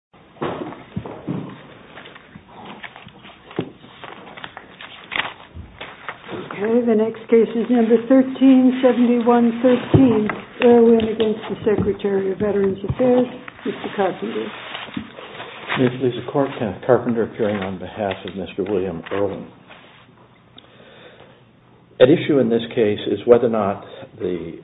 1371-13 Irwin v. Secretary of Veterans Affairs, Mr. Carpenter. Mr. Carpenter appearing on behalf of Mr. William Irwin. An issue in this case is whether or not the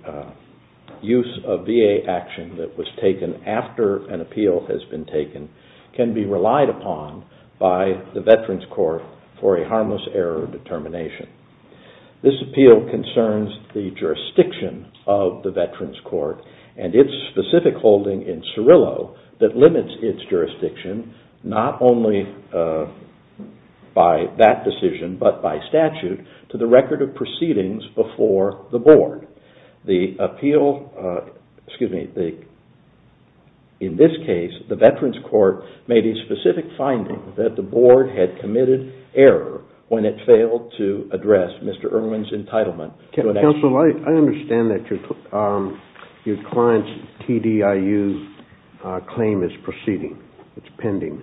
use of VA action that was taken after an appeal has been taken can be relied upon by the Veterans Court for a harmless error determination. This appeal concerns the jurisdiction of the Veterans Court and its specific holding in Cirillo that limits its jurisdiction not only by that decision but by statute to the record of proceedings before the board. In this case, the Veterans Court made a specific finding that the board had committed error when it failed to address Mr. Irwin's entitlement. Counsel, I understand that your client's TDIU claim is proceeding. It's pending.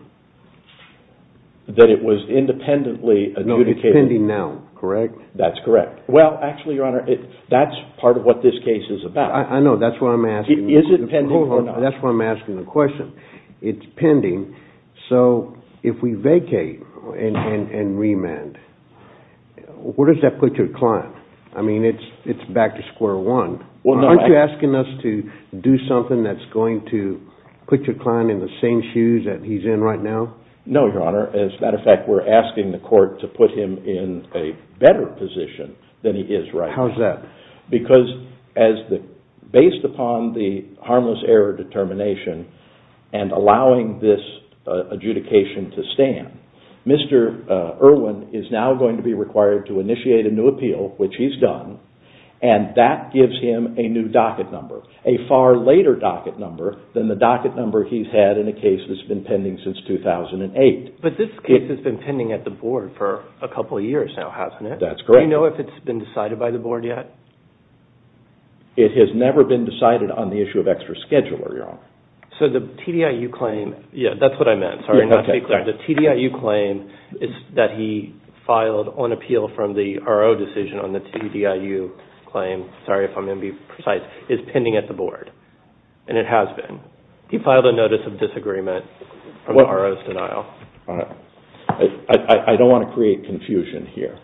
That it was independently adjudicated. No, it's pending now, correct? That's correct. Well, actually, Your Honor, that's part of what this case is about. I know, that's what I'm asking. Is it pending or not? That's what I'm asking the question. It's pending, so if we vacate and remand, where does that put your client? I mean, it's back to square one. Aren't you asking us to do something that's going to put your client in the same shoes that he's in right now? No, Your Honor. As a matter of fact, we're asking the court to put him in a better position than he is right now. How is that? Because based upon the harmless error determination and allowing this adjudication to stand, Mr. Irwin is now going to be required to initiate a new appeal, which he's done, and that gives him a new docket number, a far later docket number than the docket number he's had in a case that's been pending since 2008. But this case has been pending at the board for a couple of years now, hasn't it? That's correct. Do you know if it's been decided by the board yet? It has never been decided on the issue of extra scheduler, Your Honor. So the TDIU claim, yeah, that's what I meant. Sorry, not to be clear. The TDIU claim is that he filed on appeal from the RO decision on the TDIU claim. Sorry if I'm going to be precise. It's pending at the board, and it has been. He filed a notice of disagreement on the RO's denial. All right. I don't want to create confusion here.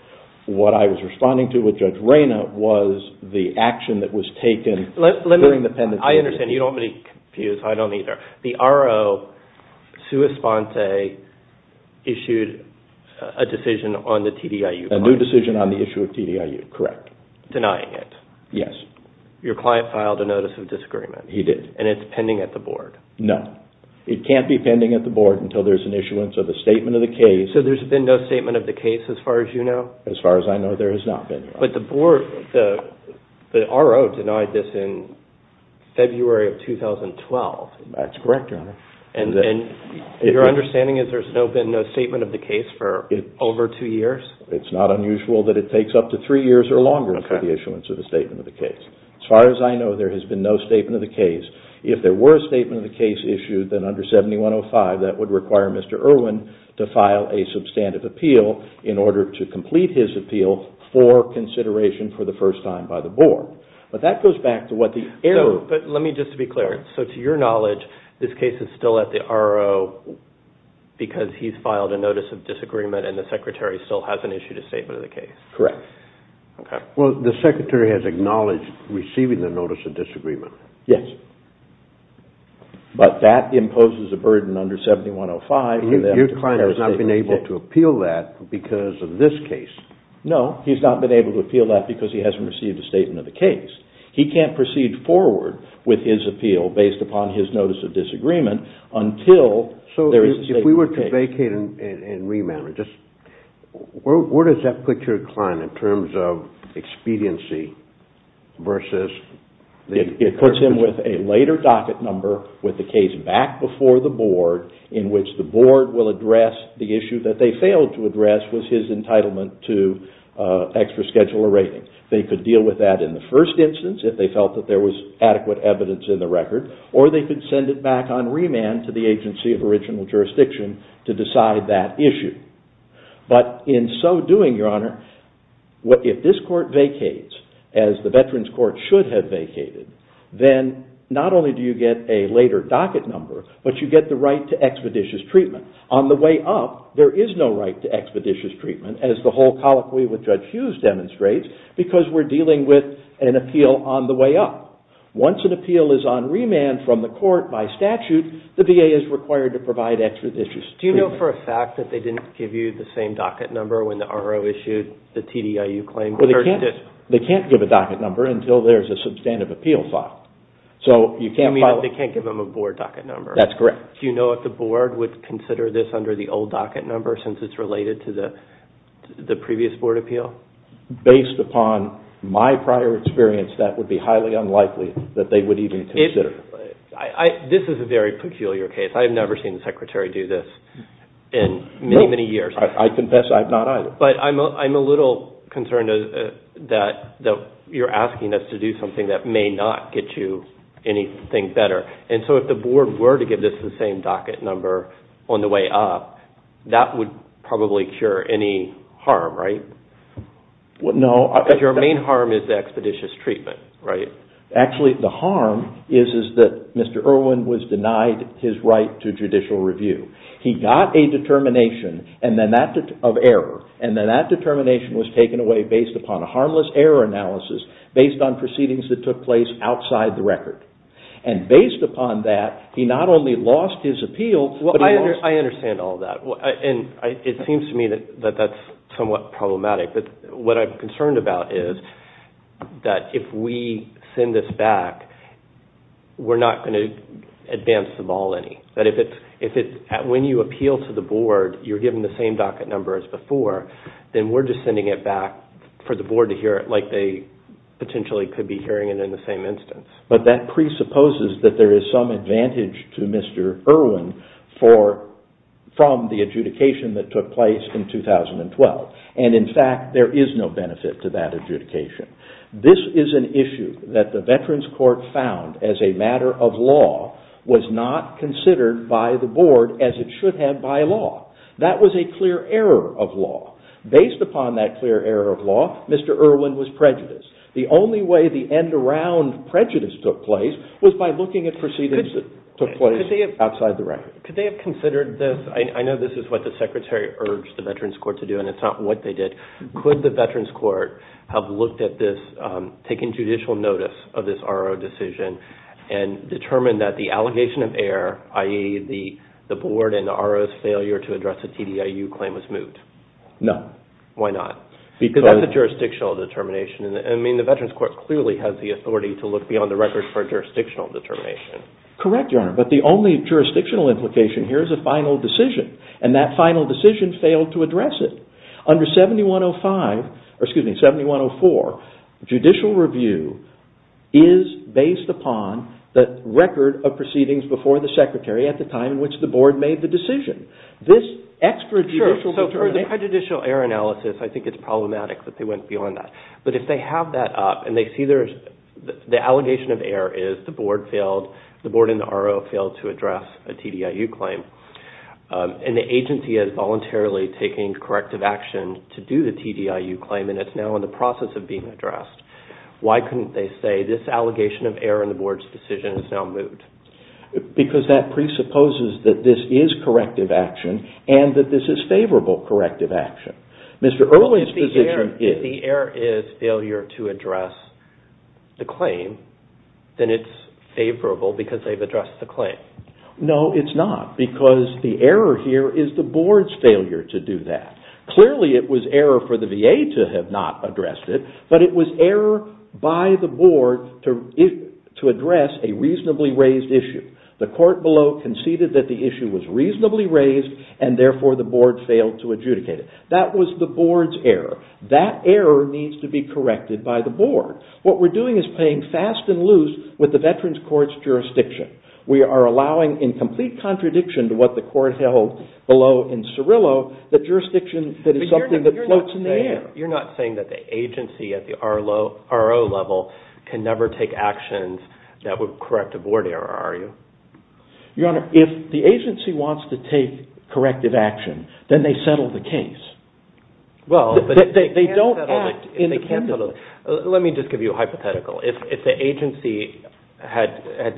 What I was responding to with Judge Reyna was the action that was taken during the pending. I understand. You don't want me to confuse. I don't either. The RO, sua sponte, issued a decision on the TDIU claim. A new decision on the issue of TDIU, correct. Denying it. Yes. Your client filed a notice of disagreement. He did. And it's pending at the board. No. It can't be pending at the board until there's an issuance of a statement of the case. So there's been no statement of the case as far as you know? As far as I know, there has not been, Your Honor. But the RO denied this in February of 2012. That's correct, Your Honor. And your understanding is there's been no statement of the case for over two years? It's not unusual that it takes up to three years or longer for the issuance of a statement of the case. As far as I know, there has been no statement of the case. If there were a statement of the case issued, then under 7105, that would require Mr. Irwin to file a substantive appeal in order to complete his appeal for consideration for the first time by the board. But that goes back to what the error. But let me just be clear. So to your knowledge, this case is still at the RO because he's filed a notice of disagreement and the Secretary still hasn't issued a statement of the case? Correct. Okay. Well, the Secretary has acknowledged receiving the notice of disagreement. Yes. But that imposes a burden under 7105. Your client has not been able to appeal that because of this case? No. He's not been able to appeal that because he hasn't received a statement of the case. He can't proceed forward with his appeal based upon his notice of disagreement until there is a statement of the case. So if we were to vacate and remand, where does that put your client in terms of expediency versus... It puts him with a later docket number with the case back before the board in which the board will address the issue that they failed to address was his entitlement to extra schedule a rating. They could deal with that in the first instance if they felt that there was adequate evidence in the record or they could send it back on remand to the agency of original jurisdiction to decide that issue. But in so doing, Your Honor, if this court vacates as the Veterans Court should have vacated, then not only do you get a later docket number, but you get the right to expeditious treatment. On the way up, there is no right to expeditious treatment as the whole colloquy with Judge Hughes demonstrates because we're dealing with an appeal on the way up. Once an appeal is on remand from the court by statute, the VA is required to provide expeditious treatment. Do you know for a fact that they didn't give you the same docket number when the RO issued the TDIU claim? They can't give a docket number until there's a substantive appeal filed. You mean they can't give them a board docket number? That's correct. Do you know if the board would consider this under the old docket number since it's related to the previous board appeal? Based upon my prior experience, that would be highly unlikely that they would even consider. This is a very peculiar case. I've never seen the Secretary do this in many, many years. I confess I've not either. But I'm a little concerned that you're asking us to do something that may not get you anything better. And so if the board were to give this the same docket number on the way up, that would probably cure any harm, right? No. Because your main harm is the expeditious treatment, right? Actually, the harm is that Mr. Irwin was denied his right to judicial review. He got a determination of error. And then that determination was taken away based upon a harmless error analysis based on proceedings that took place outside the record. And based upon that, he not only lost his appeal, but he lost... I understand all that. And it seems to me that that's somewhat problematic. What I'm concerned about is that if we send this back, we're not going to advance the ball any. When you appeal to the board, you're given the same docket number as before. Then we're just sending it back for the board to hear it like they potentially could be hearing it in the same instance. But that presupposes that there is some advantage to Mr. Irwin from the adjudication that took place in 2012. And in fact, there is no benefit to that adjudication. This is an issue that the Veterans Court found as a matter of law was not considered by the board as it should have by law. That was a clear error of law. Based upon that clear error of law, Mr. Irwin was prejudiced. The only way the end-around prejudice took place was by looking at proceedings that took place outside the record. Could they have considered this? I know this is what the Secretary urged the Veterans Court to do, and it's not what they did. Could the Veterans Court have looked at this, taken judicial notice of this R.O. decision, and determined that the allegation of error, i.e., the board and the R.O.'s failure to address the TDIU claim was moot? No. Why not? Because that's a jurisdictional determination. I mean, the Veterans Court clearly has the authority to look beyond the record for a jurisdictional determination. Correct, Your Honor. But the only jurisdictional implication here is a final decision, and that final decision failed to address it. Under 7104, judicial review is based upon the record of proceedings before the Secretary at the time in which the board made the decision. This extrajudicial determination… Sure. So for the prejudicial error analysis, I think it's problematic that they went beyond that. But if they have that up, and they see the allegation of error is the board and the R.O. failed to address a TDIU claim, and the agency is voluntarily taking corrective action to do the TDIU claim, and it's now in the process of being addressed, why couldn't they say this allegation of error in the board's decision is now moot? Because that presupposes that this is corrective action, and that this is favorable corrective action. Mr. Irwin's position is… If the error is failure to address the claim, then it's favorable because they've addressed the claim. No, it's not, because the error here is the board's failure to do that. Clearly it was error for the VA to have not addressed it, but it was error by the board to address a reasonably raised issue. The court below conceded that the issue was reasonably raised, and therefore the board failed to adjudicate it. That was the board's error. That error needs to be corrected by the board. What we're doing is playing fast and loose with the Veterans Court's jurisdiction. We are allowing, in complete contradiction to what the court held below in Cirillo, the jurisdiction that is something that floats in the air. You're not saying that the agency at the R.O. level can never take actions that would correct a board error, are you? Your Honor, if the agency wants to take corrective action, then they settle the case. Well, but if they can't settle it… Let me just give you a hypothetical. If the agency had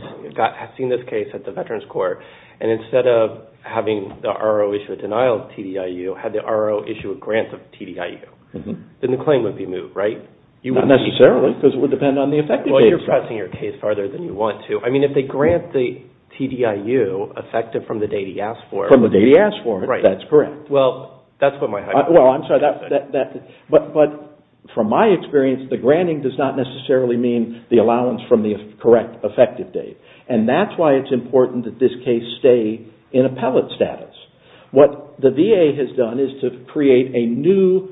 seen this case at the Veterans Court, and instead of having the R.O. issue a denial of TDIU, had the R.O. issue a grant of TDIU, then the claim would be moved, right? Well, you're pressing your case farther than you want to. I mean, if they grant the TDIU effective from the date he asked for… From the date he asked for it, that's correct. Well, that's what my hypothesis is. Well, I'm sorry, but from my experience, the granting does not necessarily mean the allowance from the correct effective date. And that's why it's important that this case stay in appellate status. What the VA has done is to create a new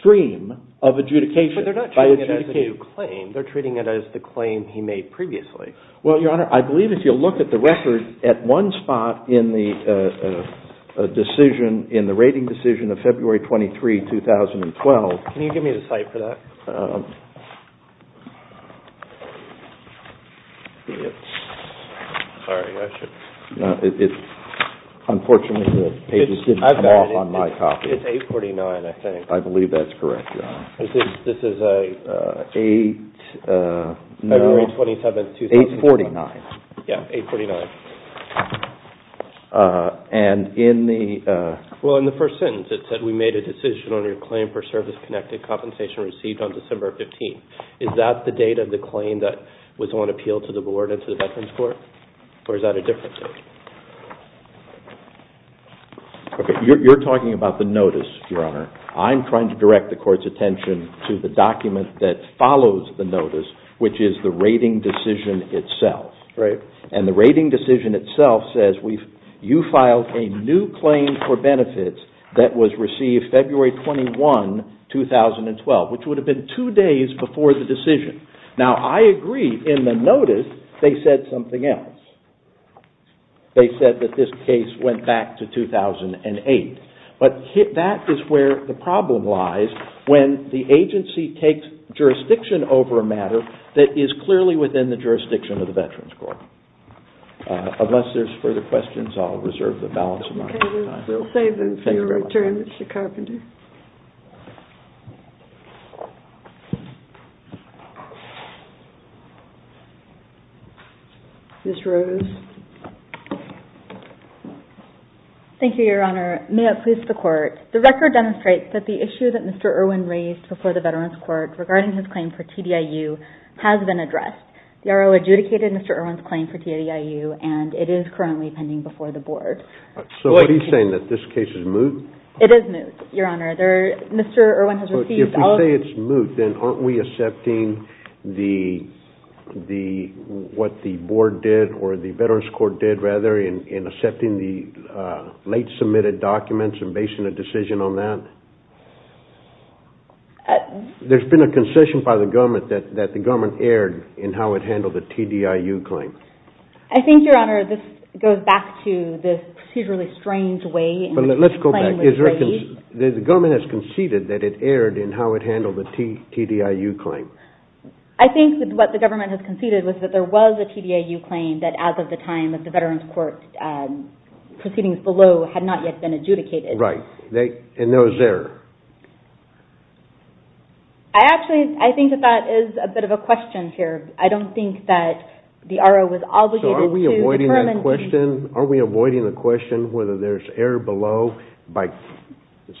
stream of adjudication. But they're not treating it as a new claim. They're treating it as the claim he made previously. Well, Your Honor, I believe if you look at the record, at one spot in the decision, in the rating decision of February 23, 2012… Can you give me the site for that? It's… Sorry, I should… Unfortunately, the pages didn't come off on my copy. It's 849, I think. I believe that's correct, Your Honor. This is February 27, 2012. 849. Yeah, 849. And in the… Well, in the first sentence, it said, we made a decision on your claim for service-connected compensation received on December 15. Is that the date of the claim that was on appeal to the Board and to the Veterans Court? Or is that a different date? You're talking about the notice, Your Honor. I'm trying to direct the Court's attention to the document that follows the notice, which is the rating decision itself. Right. And the rating decision itself says you filed a new claim for benefits that was received February 21, 2012, which would have been two days before the decision. Now, I agree in the notice they said something else. They said that this case went back to 2008. But that is where the problem lies when the agency takes jurisdiction over a matter that is clearly within the jurisdiction of the Veterans Court. Unless there's further questions, I'll reserve the balance amount of time. Okay. We'll save them for your return, Mr. Carpenter. Thank you very much. Ms. Rose. Thank you, Your Honor. May it please the Court. The record demonstrates that the issue that Mr. Irwin raised before the Veterans Court regarding his claim for TDIU has been addressed. The R.O. adjudicated Mr. Irwin's claim for TDIU, and it is currently pending before the Board. So what are you saying? That this case is moot? It is moot, Your Honor. Mr. Irwin has received all of the – in accepting the late-submitted documents and basing a decision on that? There's been a concession by the government that the government erred in how it handled the TDIU claim. I think, Your Honor, this goes back to the procedurally strange way in which the claim was made. Let's go back. The government has conceded that it erred in how it handled the TDIU claim. I think that what the government has conceded was that there was a TDIU claim that, as of the time that the Veterans Court proceedings below had not yet been adjudicated. Right. And there was error. I actually – I think that that is a bit of a question here. I don't think that the R.O. was obligated to determine – So are we avoiding that question? Are we avoiding the question whether there's error below by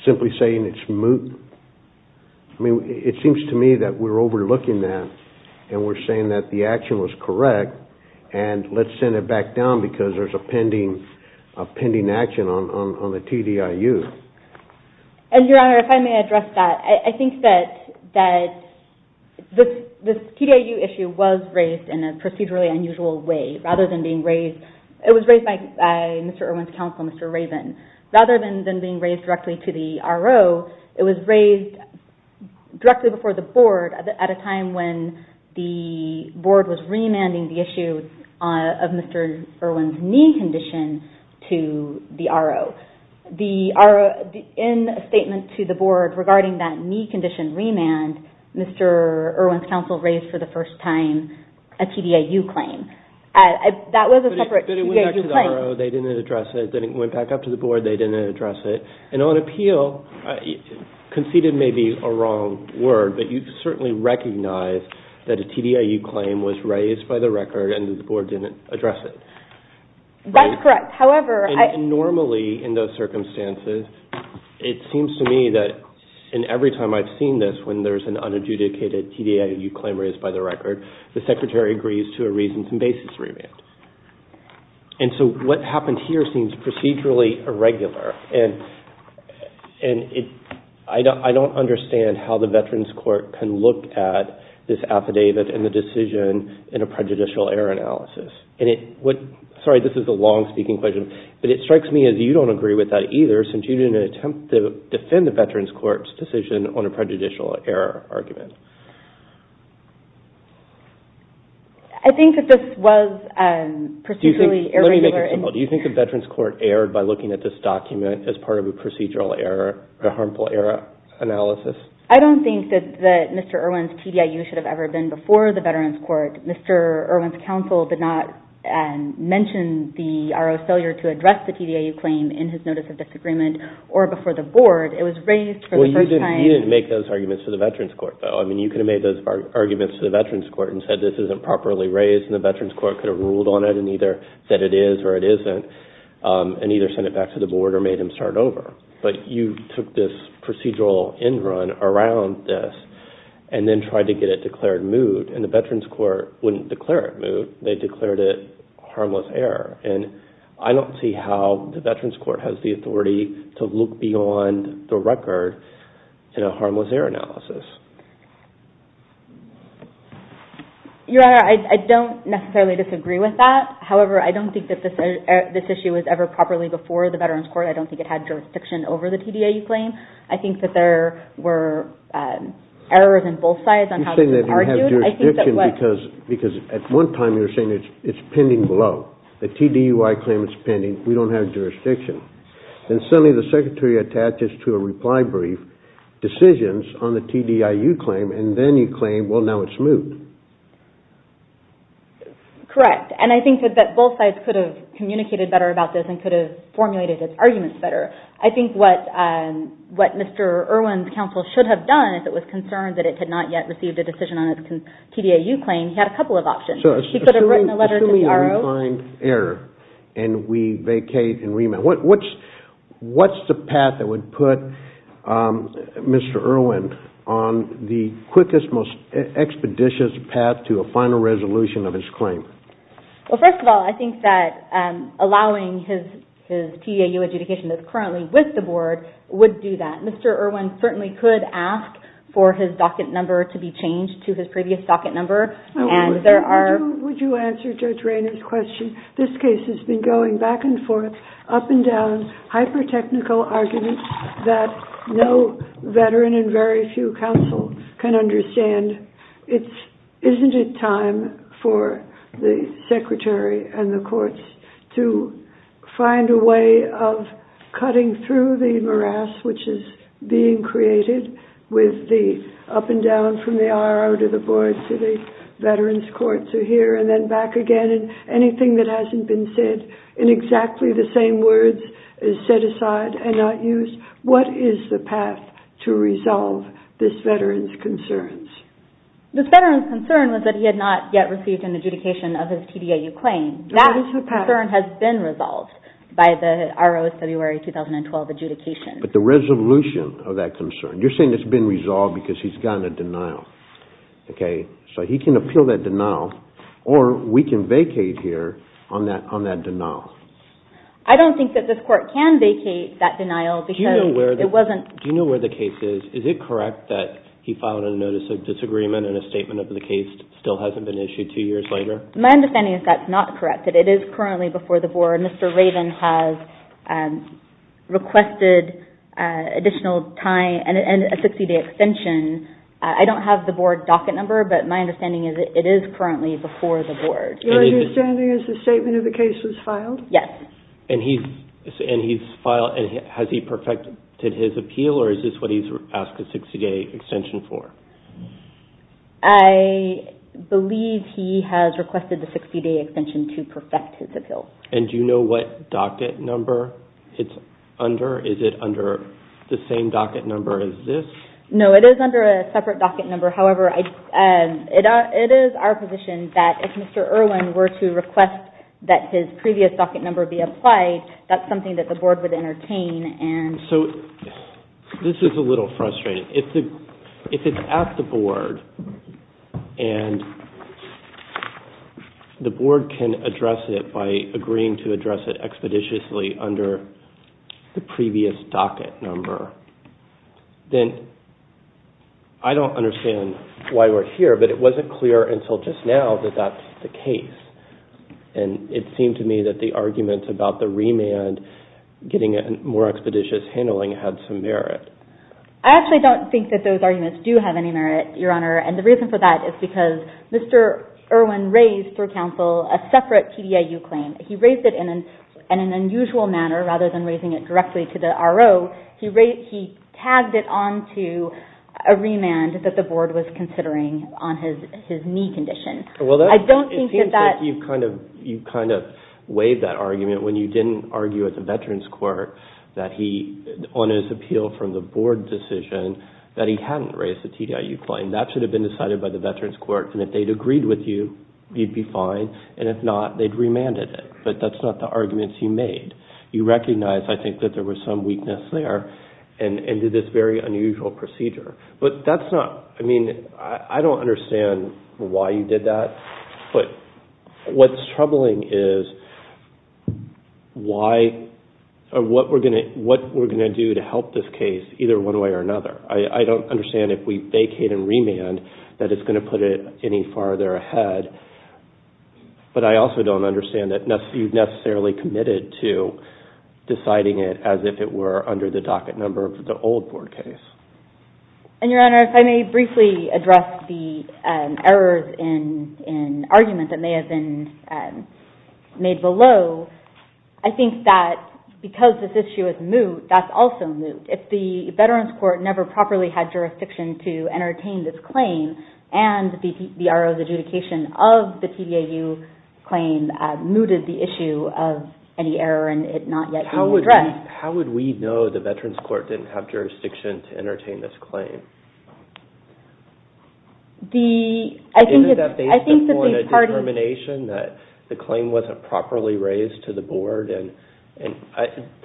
simply saying it's moot? I mean, it seems to me that we're overlooking that and we're saying that the action was correct and let's send it back down because there's a pending action on the TDIU. And, Your Honor, if I may address that, I think that this TDIU issue was raised in a procedurally unusual way. Rather than being raised – it was raised by Mr. Irwin's counsel, Mr. Raven. Rather than being raised directly to the R.O., it was raised directly before the Board at a time when the Board was remanding the issue of Mr. Irwin's knee condition to the R.O. In a statement to the Board regarding that knee condition remand, Mr. Irwin's counsel raised for the first time a TDIU claim. That was a separate TDIU claim. They didn't address it. Then it went back up to the Board. They didn't address it. And on appeal, conceited may be a wrong word, but you certainly recognize that a TDIU claim was raised by the record and the Board didn't address it. That's correct. However, I – Normally, in those circumstances, it seems to me that in every time I've seen this, when there's an unadjudicated TDIU claim raised by the record, the Secretary agrees to a reasons and basis remand. And so what happened here seems procedurally irregular, and I don't understand how the Veterans Court can look at this affidavit and the decision in a prejudicial error analysis. And it – sorry, this is a long-speaking question, but it strikes me as you don't agree with that either since you didn't attempt to defend the Veterans Court's decision on a prejudicial error argument. I think that this was procedurally irregular. Let me make an example. Do you think the Veterans Court erred by looking at this document as part of a procedural error, a harmful error analysis? I don't think that Mr. Irwin's TDIU should have ever been before the Veterans Court. Mr. Irwin's counsel did not mention the RO failure to address the TDIU claim in his notice of disagreement or before the Board. It was raised for the first time – Well, you didn't make those arguments for the Veterans Court, though. I mean, you could have made those arguments to the Veterans Court and said this isn't properly raised, and the Veterans Court could have ruled on it and either said it is or it isn't and either sent it back to the Board or made them start over. But you took this procedural end run around this and then tried to get it declared moot, and the Veterans Court wouldn't declare it moot. They declared it harmless error. And I don't see how the Veterans Court has the authority to look beyond the record in a harmless error analysis. Your Honor, I don't necessarily disagree with that. However, I don't think that this issue was ever properly before the Veterans Court. I don't think it had jurisdiction over the TDIU claim. I think that there were errors in both sides on how this was argued. You're saying that it didn't have jurisdiction because at one time you were saying it's pending below. The TDIU claim is pending. We don't have jurisdiction. And suddenly the Secretary attaches to a reply brief decisions on the TDIU claim and then you claim, well, now it's moot. Correct. And I think that both sides could have communicated better about this and could have formulated its arguments better. I think what Mr. Irwin's counsel should have done if it was concerned that it had not yet received a decision on its TDIU claim, he had a couple of options. He could have written a letter to the RO. And we vacate and remand. What's the path that would put Mr. Irwin on the quickest, most expeditious path to a final resolution of his claim? Well, first of all, I think that allowing his TDIU adjudication that's currently with the Board would do that. Mr. Irwin certainly could ask for his docket number to be changed to his previous docket number. Would you answer Judge Rayner's question? This case has been going back and forth, up and down, hyper-technical arguments that no veteran and very few counsel can understand. Isn't it time for the Secretary and the courts to find a way of cutting through the morass which is being created with the up and down from the RO to the Board to the Veterans Courts to here and then back again? Anything that hasn't been said in exactly the same words is set aside and not used. What is the path to resolve this veteran's concerns? This veteran's concern was that he had not yet received an adjudication of his TDIU claim. That concern has been resolved by the RO's February 2012 adjudication. But the resolution of that concern, you're saying it's been resolved because he's gotten a denial. So he can appeal that denial or we can vacate here on that denial. I don't think that this Court can vacate that denial. Do you know where the case is? Is it correct that he filed a notice of disagreement and a statement of the case still hasn't been issued two years later? My understanding is that's not correct. It is currently before the Board. Mr. Raven has requested additional time and a 60-day extension. I don't have the Board docket number, but my understanding is it is currently before the Board. Your understanding is the statement of the case was filed? Yes. Has he perfected his appeal or is this what he's asked a 60-day extension for? I believe he has requested the 60-day extension to perfect his appeal. And do you know what docket number it's under? Is it under the same docket number as this? No, it is under a separate docket number. However, it is our position that if Mr. Irwin were to request that his previous docket number be applied, that's something that the Board would entertain. So this is a little frustrating. If it's at the Board and the Board can address it by agreeing to address it expeditiously under the previous docket number, then I don't understand why we're here, but it wasn't clear until just now that that's the case. And it seemed to me that the argument about the remand getting more expeditious handling had some merit. I actually don't think that those arguments do have any merit, Your Honor, and the reason for that is because Mr. Irwin raised for counsel a separate PDIU claim. He raised it in an unusual manner. Rather than raising it directly to the RO, he tagged it onto a remand that the Board was considering on his knee condition. It seems like you've kind of waived that argument when you didn't argue at the Veterans Court that he, on his appeal from the Board decision, that he hadn't raised the PDIU claim. That should have been decided by the Veterans Court, and if they'd agreed with you, you'd be fine. And if not, they'd remanded it. But that's not the arguments you made. You recognized, I think, that there was some weakness there and did this very unusual procedure. But that's not, I mean, I don't understand why you did that. But what's troubling is what we're going to do to help this case either one way or another. I don't understand if we vacate and remand that it's going to put it any farther ahead, but I also don't understand that you've necessarily committed to deciding it as if it were under the docket number of the old Board case. And, Your Honor, if I may briefly address the errors in argument that may have been made below. I think that because this issue is moot, that's also moot. If the Veterans Court never properly had jurisdiction to entertain this claim and the RO's adjudication of the PDIU claim mooted the issue of any error and it not yet being addressed. How would we know the Veterans Court didn't have jurisdiction to entertain this claim? Isn't that based upon a determination that the claim wasn't properly raised to the Board? And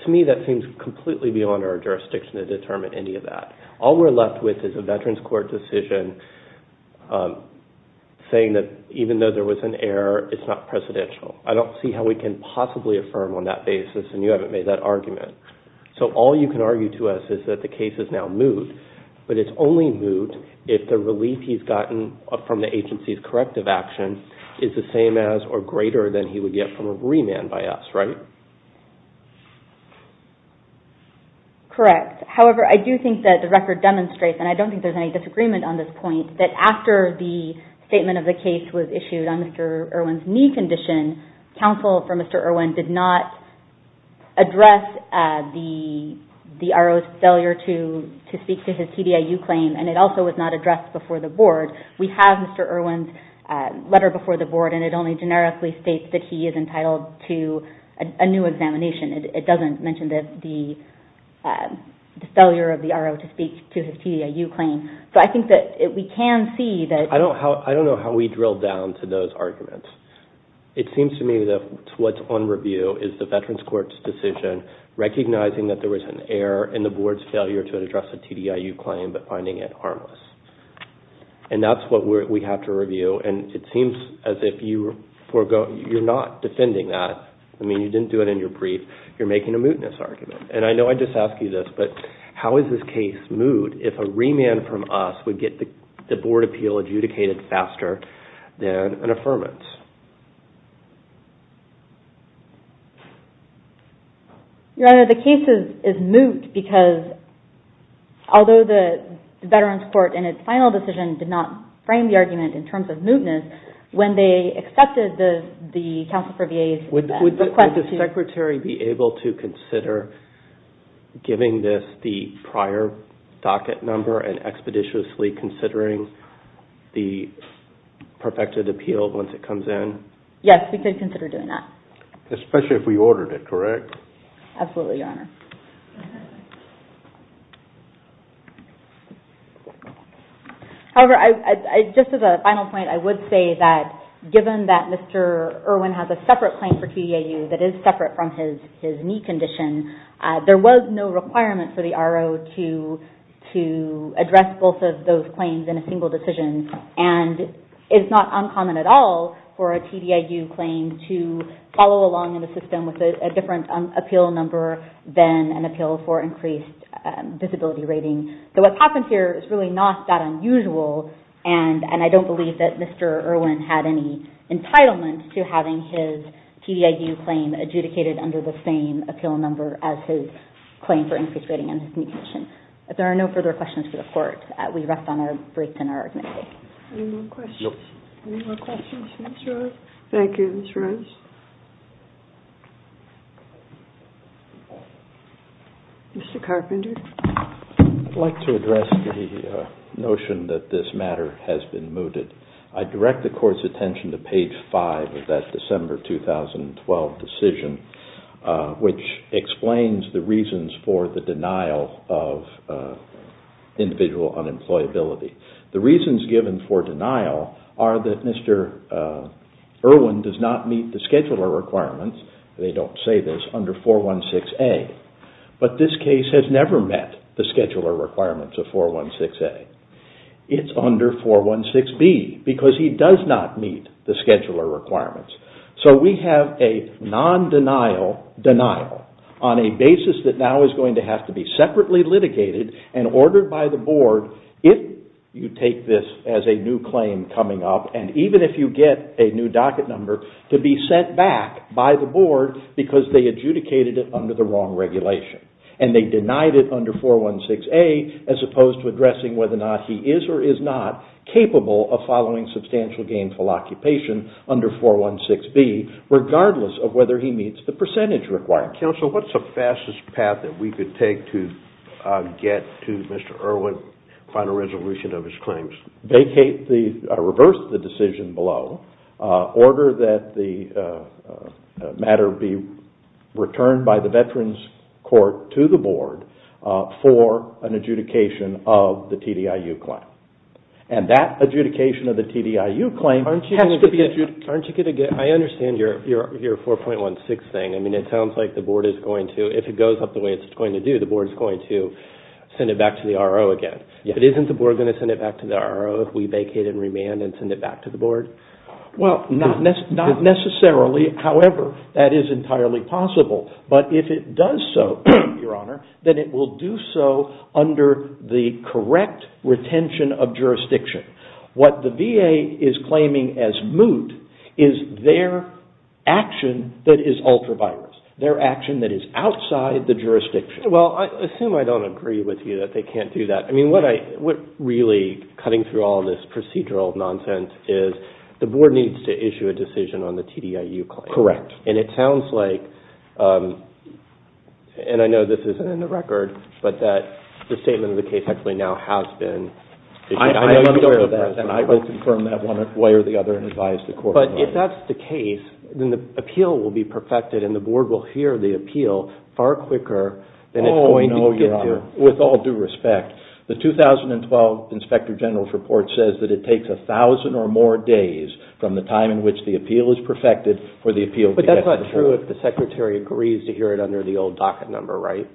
to me that seems completely beyond our jurisdiction to determine any of that. All we're left with is a Veterans Court decision saying that even though there was an error, it's not precedential. I don't see how we can possibly affirm on that basis and you haven't made that argument. So all you can argue to us is that the case is now moot, but it's only moot if the relief he's gotten from the agency's corrective action is the same as or greater than he would get from a remand by us, right? Correct. However, I do think that the record demonstrates, and I don't think there's any disagreement on this point, that after the statement of the case was issued on Mr. Irwin's knee condition, counsel for Mr. Irwin did not address the RO's failure to speak to his PDIU claim and it also was not addressed before the Board. We have Mr. Irwin's letter before the Board and it only generically states that he is entitled to a new examination. It doesn't mention the failure of the RO to speak to his PDIU claim. So I think that we can see that... I don't know how we drill down to those arguments. It seems to me that what's on review is the Veterans Court's decision recognizing that there was an error in the Board's failure to address the PDIU claim but finding it harmless. And that's what we have to review and it seems as if you're not defending that. I mean, you didn't do it in your brief. You're making a mootness argument. And I know I just asked you this, but how is this case moot if a remand from us would get the Board appeal adjudicated faster than an affirmance? Your Honor, the case is moot because although the Veterans Court in its final decision did not frame the argument in terms of mootness, when they accepted the counsel for VA's request to... and expeditiously considering the perfected appeal once it comes in. Yes, we could consider doing that. Especially if we ordered it, correct? Absolutely, Your Honor. However, just as a final point, I would say that given that Mr. Irwin has a separate claim for PDIU that is separate from his knee condition, there was no requirement for the RO to address both of those claims in a single decision. And it's not uncommon at all for a PDIU claim to follow along in the system with a different appeal number than an appeal for increased disability rating. So what's happened here is really not that unusual and I don't believe that Mr. Irwin had any entitlement to having his PDIU claim adjudicated under the same appeal number as his claim for increased rating on his knee condition. If there are no further questions for the Court, we rest on our briefs and are admitted. Any more questions? No. Any more questions? Thank you, Ms. Rose. Mr. Carpenter. I'd like to address the notion that this matter has been mooted. I direct the Court's attention to page 5 of that December 2012 decision, which explains the reasons for the denial of individual unemployability. The reasons given for denial are that Mr. Irwin does not meet the scheduler requirements, they don't say this, under 416A. But this case has never met the scheduler requirements of 416A. It's under 416B because he does not meet the scheduler requirements. So we have a non-denial denial on a basis that now is going to have to be separately litigated and ordered by the Board if you take this as a new claim coming up and even if you get a new docket number to be sent back by the Board because they adjudicated it under the wrong regulation. And they denied it under 416A as opposed to addressing whether or not he is or is not capable of following substantial gainful occupation under 416B, regardless of whether he meets the percentage requirements. Counsel, what's the fastest path that we could take to get to Mr. Irwin's final resolution of his claims? Reverse the decision below. Order that the matter be returned by the Veterans Court to the Board for an adjudication of the TDIU claim. And that adjudication of the TDIU claim has to be adjudicated. I understand your 4.16 thing. I mean, it sounds like the Board is going to, if it goes up the way it's going to do, the Board is going to send it back to the RO again. But isn't the Board going to send it back to the RO if we vacate and remand and send it back to the Board? Well, not necessarily. However, that is entirely possible. But if it does so, Your Honor, then it will do so under the correct retention of jurisdiction. What the VA is claiming as moot is their action that is ultra-virus, their action that is outside the jurisdiction. Well, I assume I don't agree with you that they can't do that. I mean, what really cutting through all this procedural nonsense is the Board needs to issue a decision on the TDIU claim. Correct. And it sounds like, and I know this isn't in the record, but that the statement of the case actually now has been issued. I am aware of that, and I will confirm that one way or the other and advise the Court. But if that's the case, then the appeal will be perfected, and the Board will hear the appeal far quicker than it's going to get to. Your Honor, with all due respect, the 2012 Inspector General's report says that it takes 1,000 or more days from the time in which the appeal is perfected for the appeal to get to the Court. But that's not true if the Secretary agrees to hear it under the old docket number, right?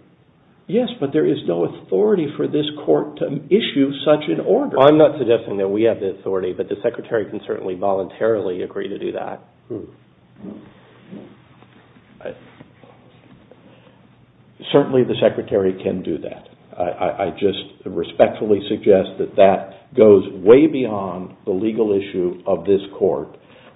Yes, but there is no authority for this Court to issue such an order. I'm not suggesting that we have the authority, but the Secretary can certainly voluntarily agree to do that. Certainly the Secretary can do that. I just respectfully suggest that that goes way beyond the legal issue of this Court,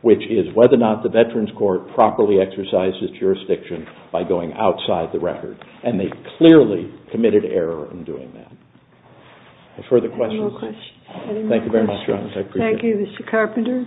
which is whether or not the Veterans Court properly exercises jurisdiction by going outside the record. And they clearly committed error in doing that. Any further questions? Any more questions? Thank you very much, Your Honor. I appreciate it. Thank you, Mr. Carpenter.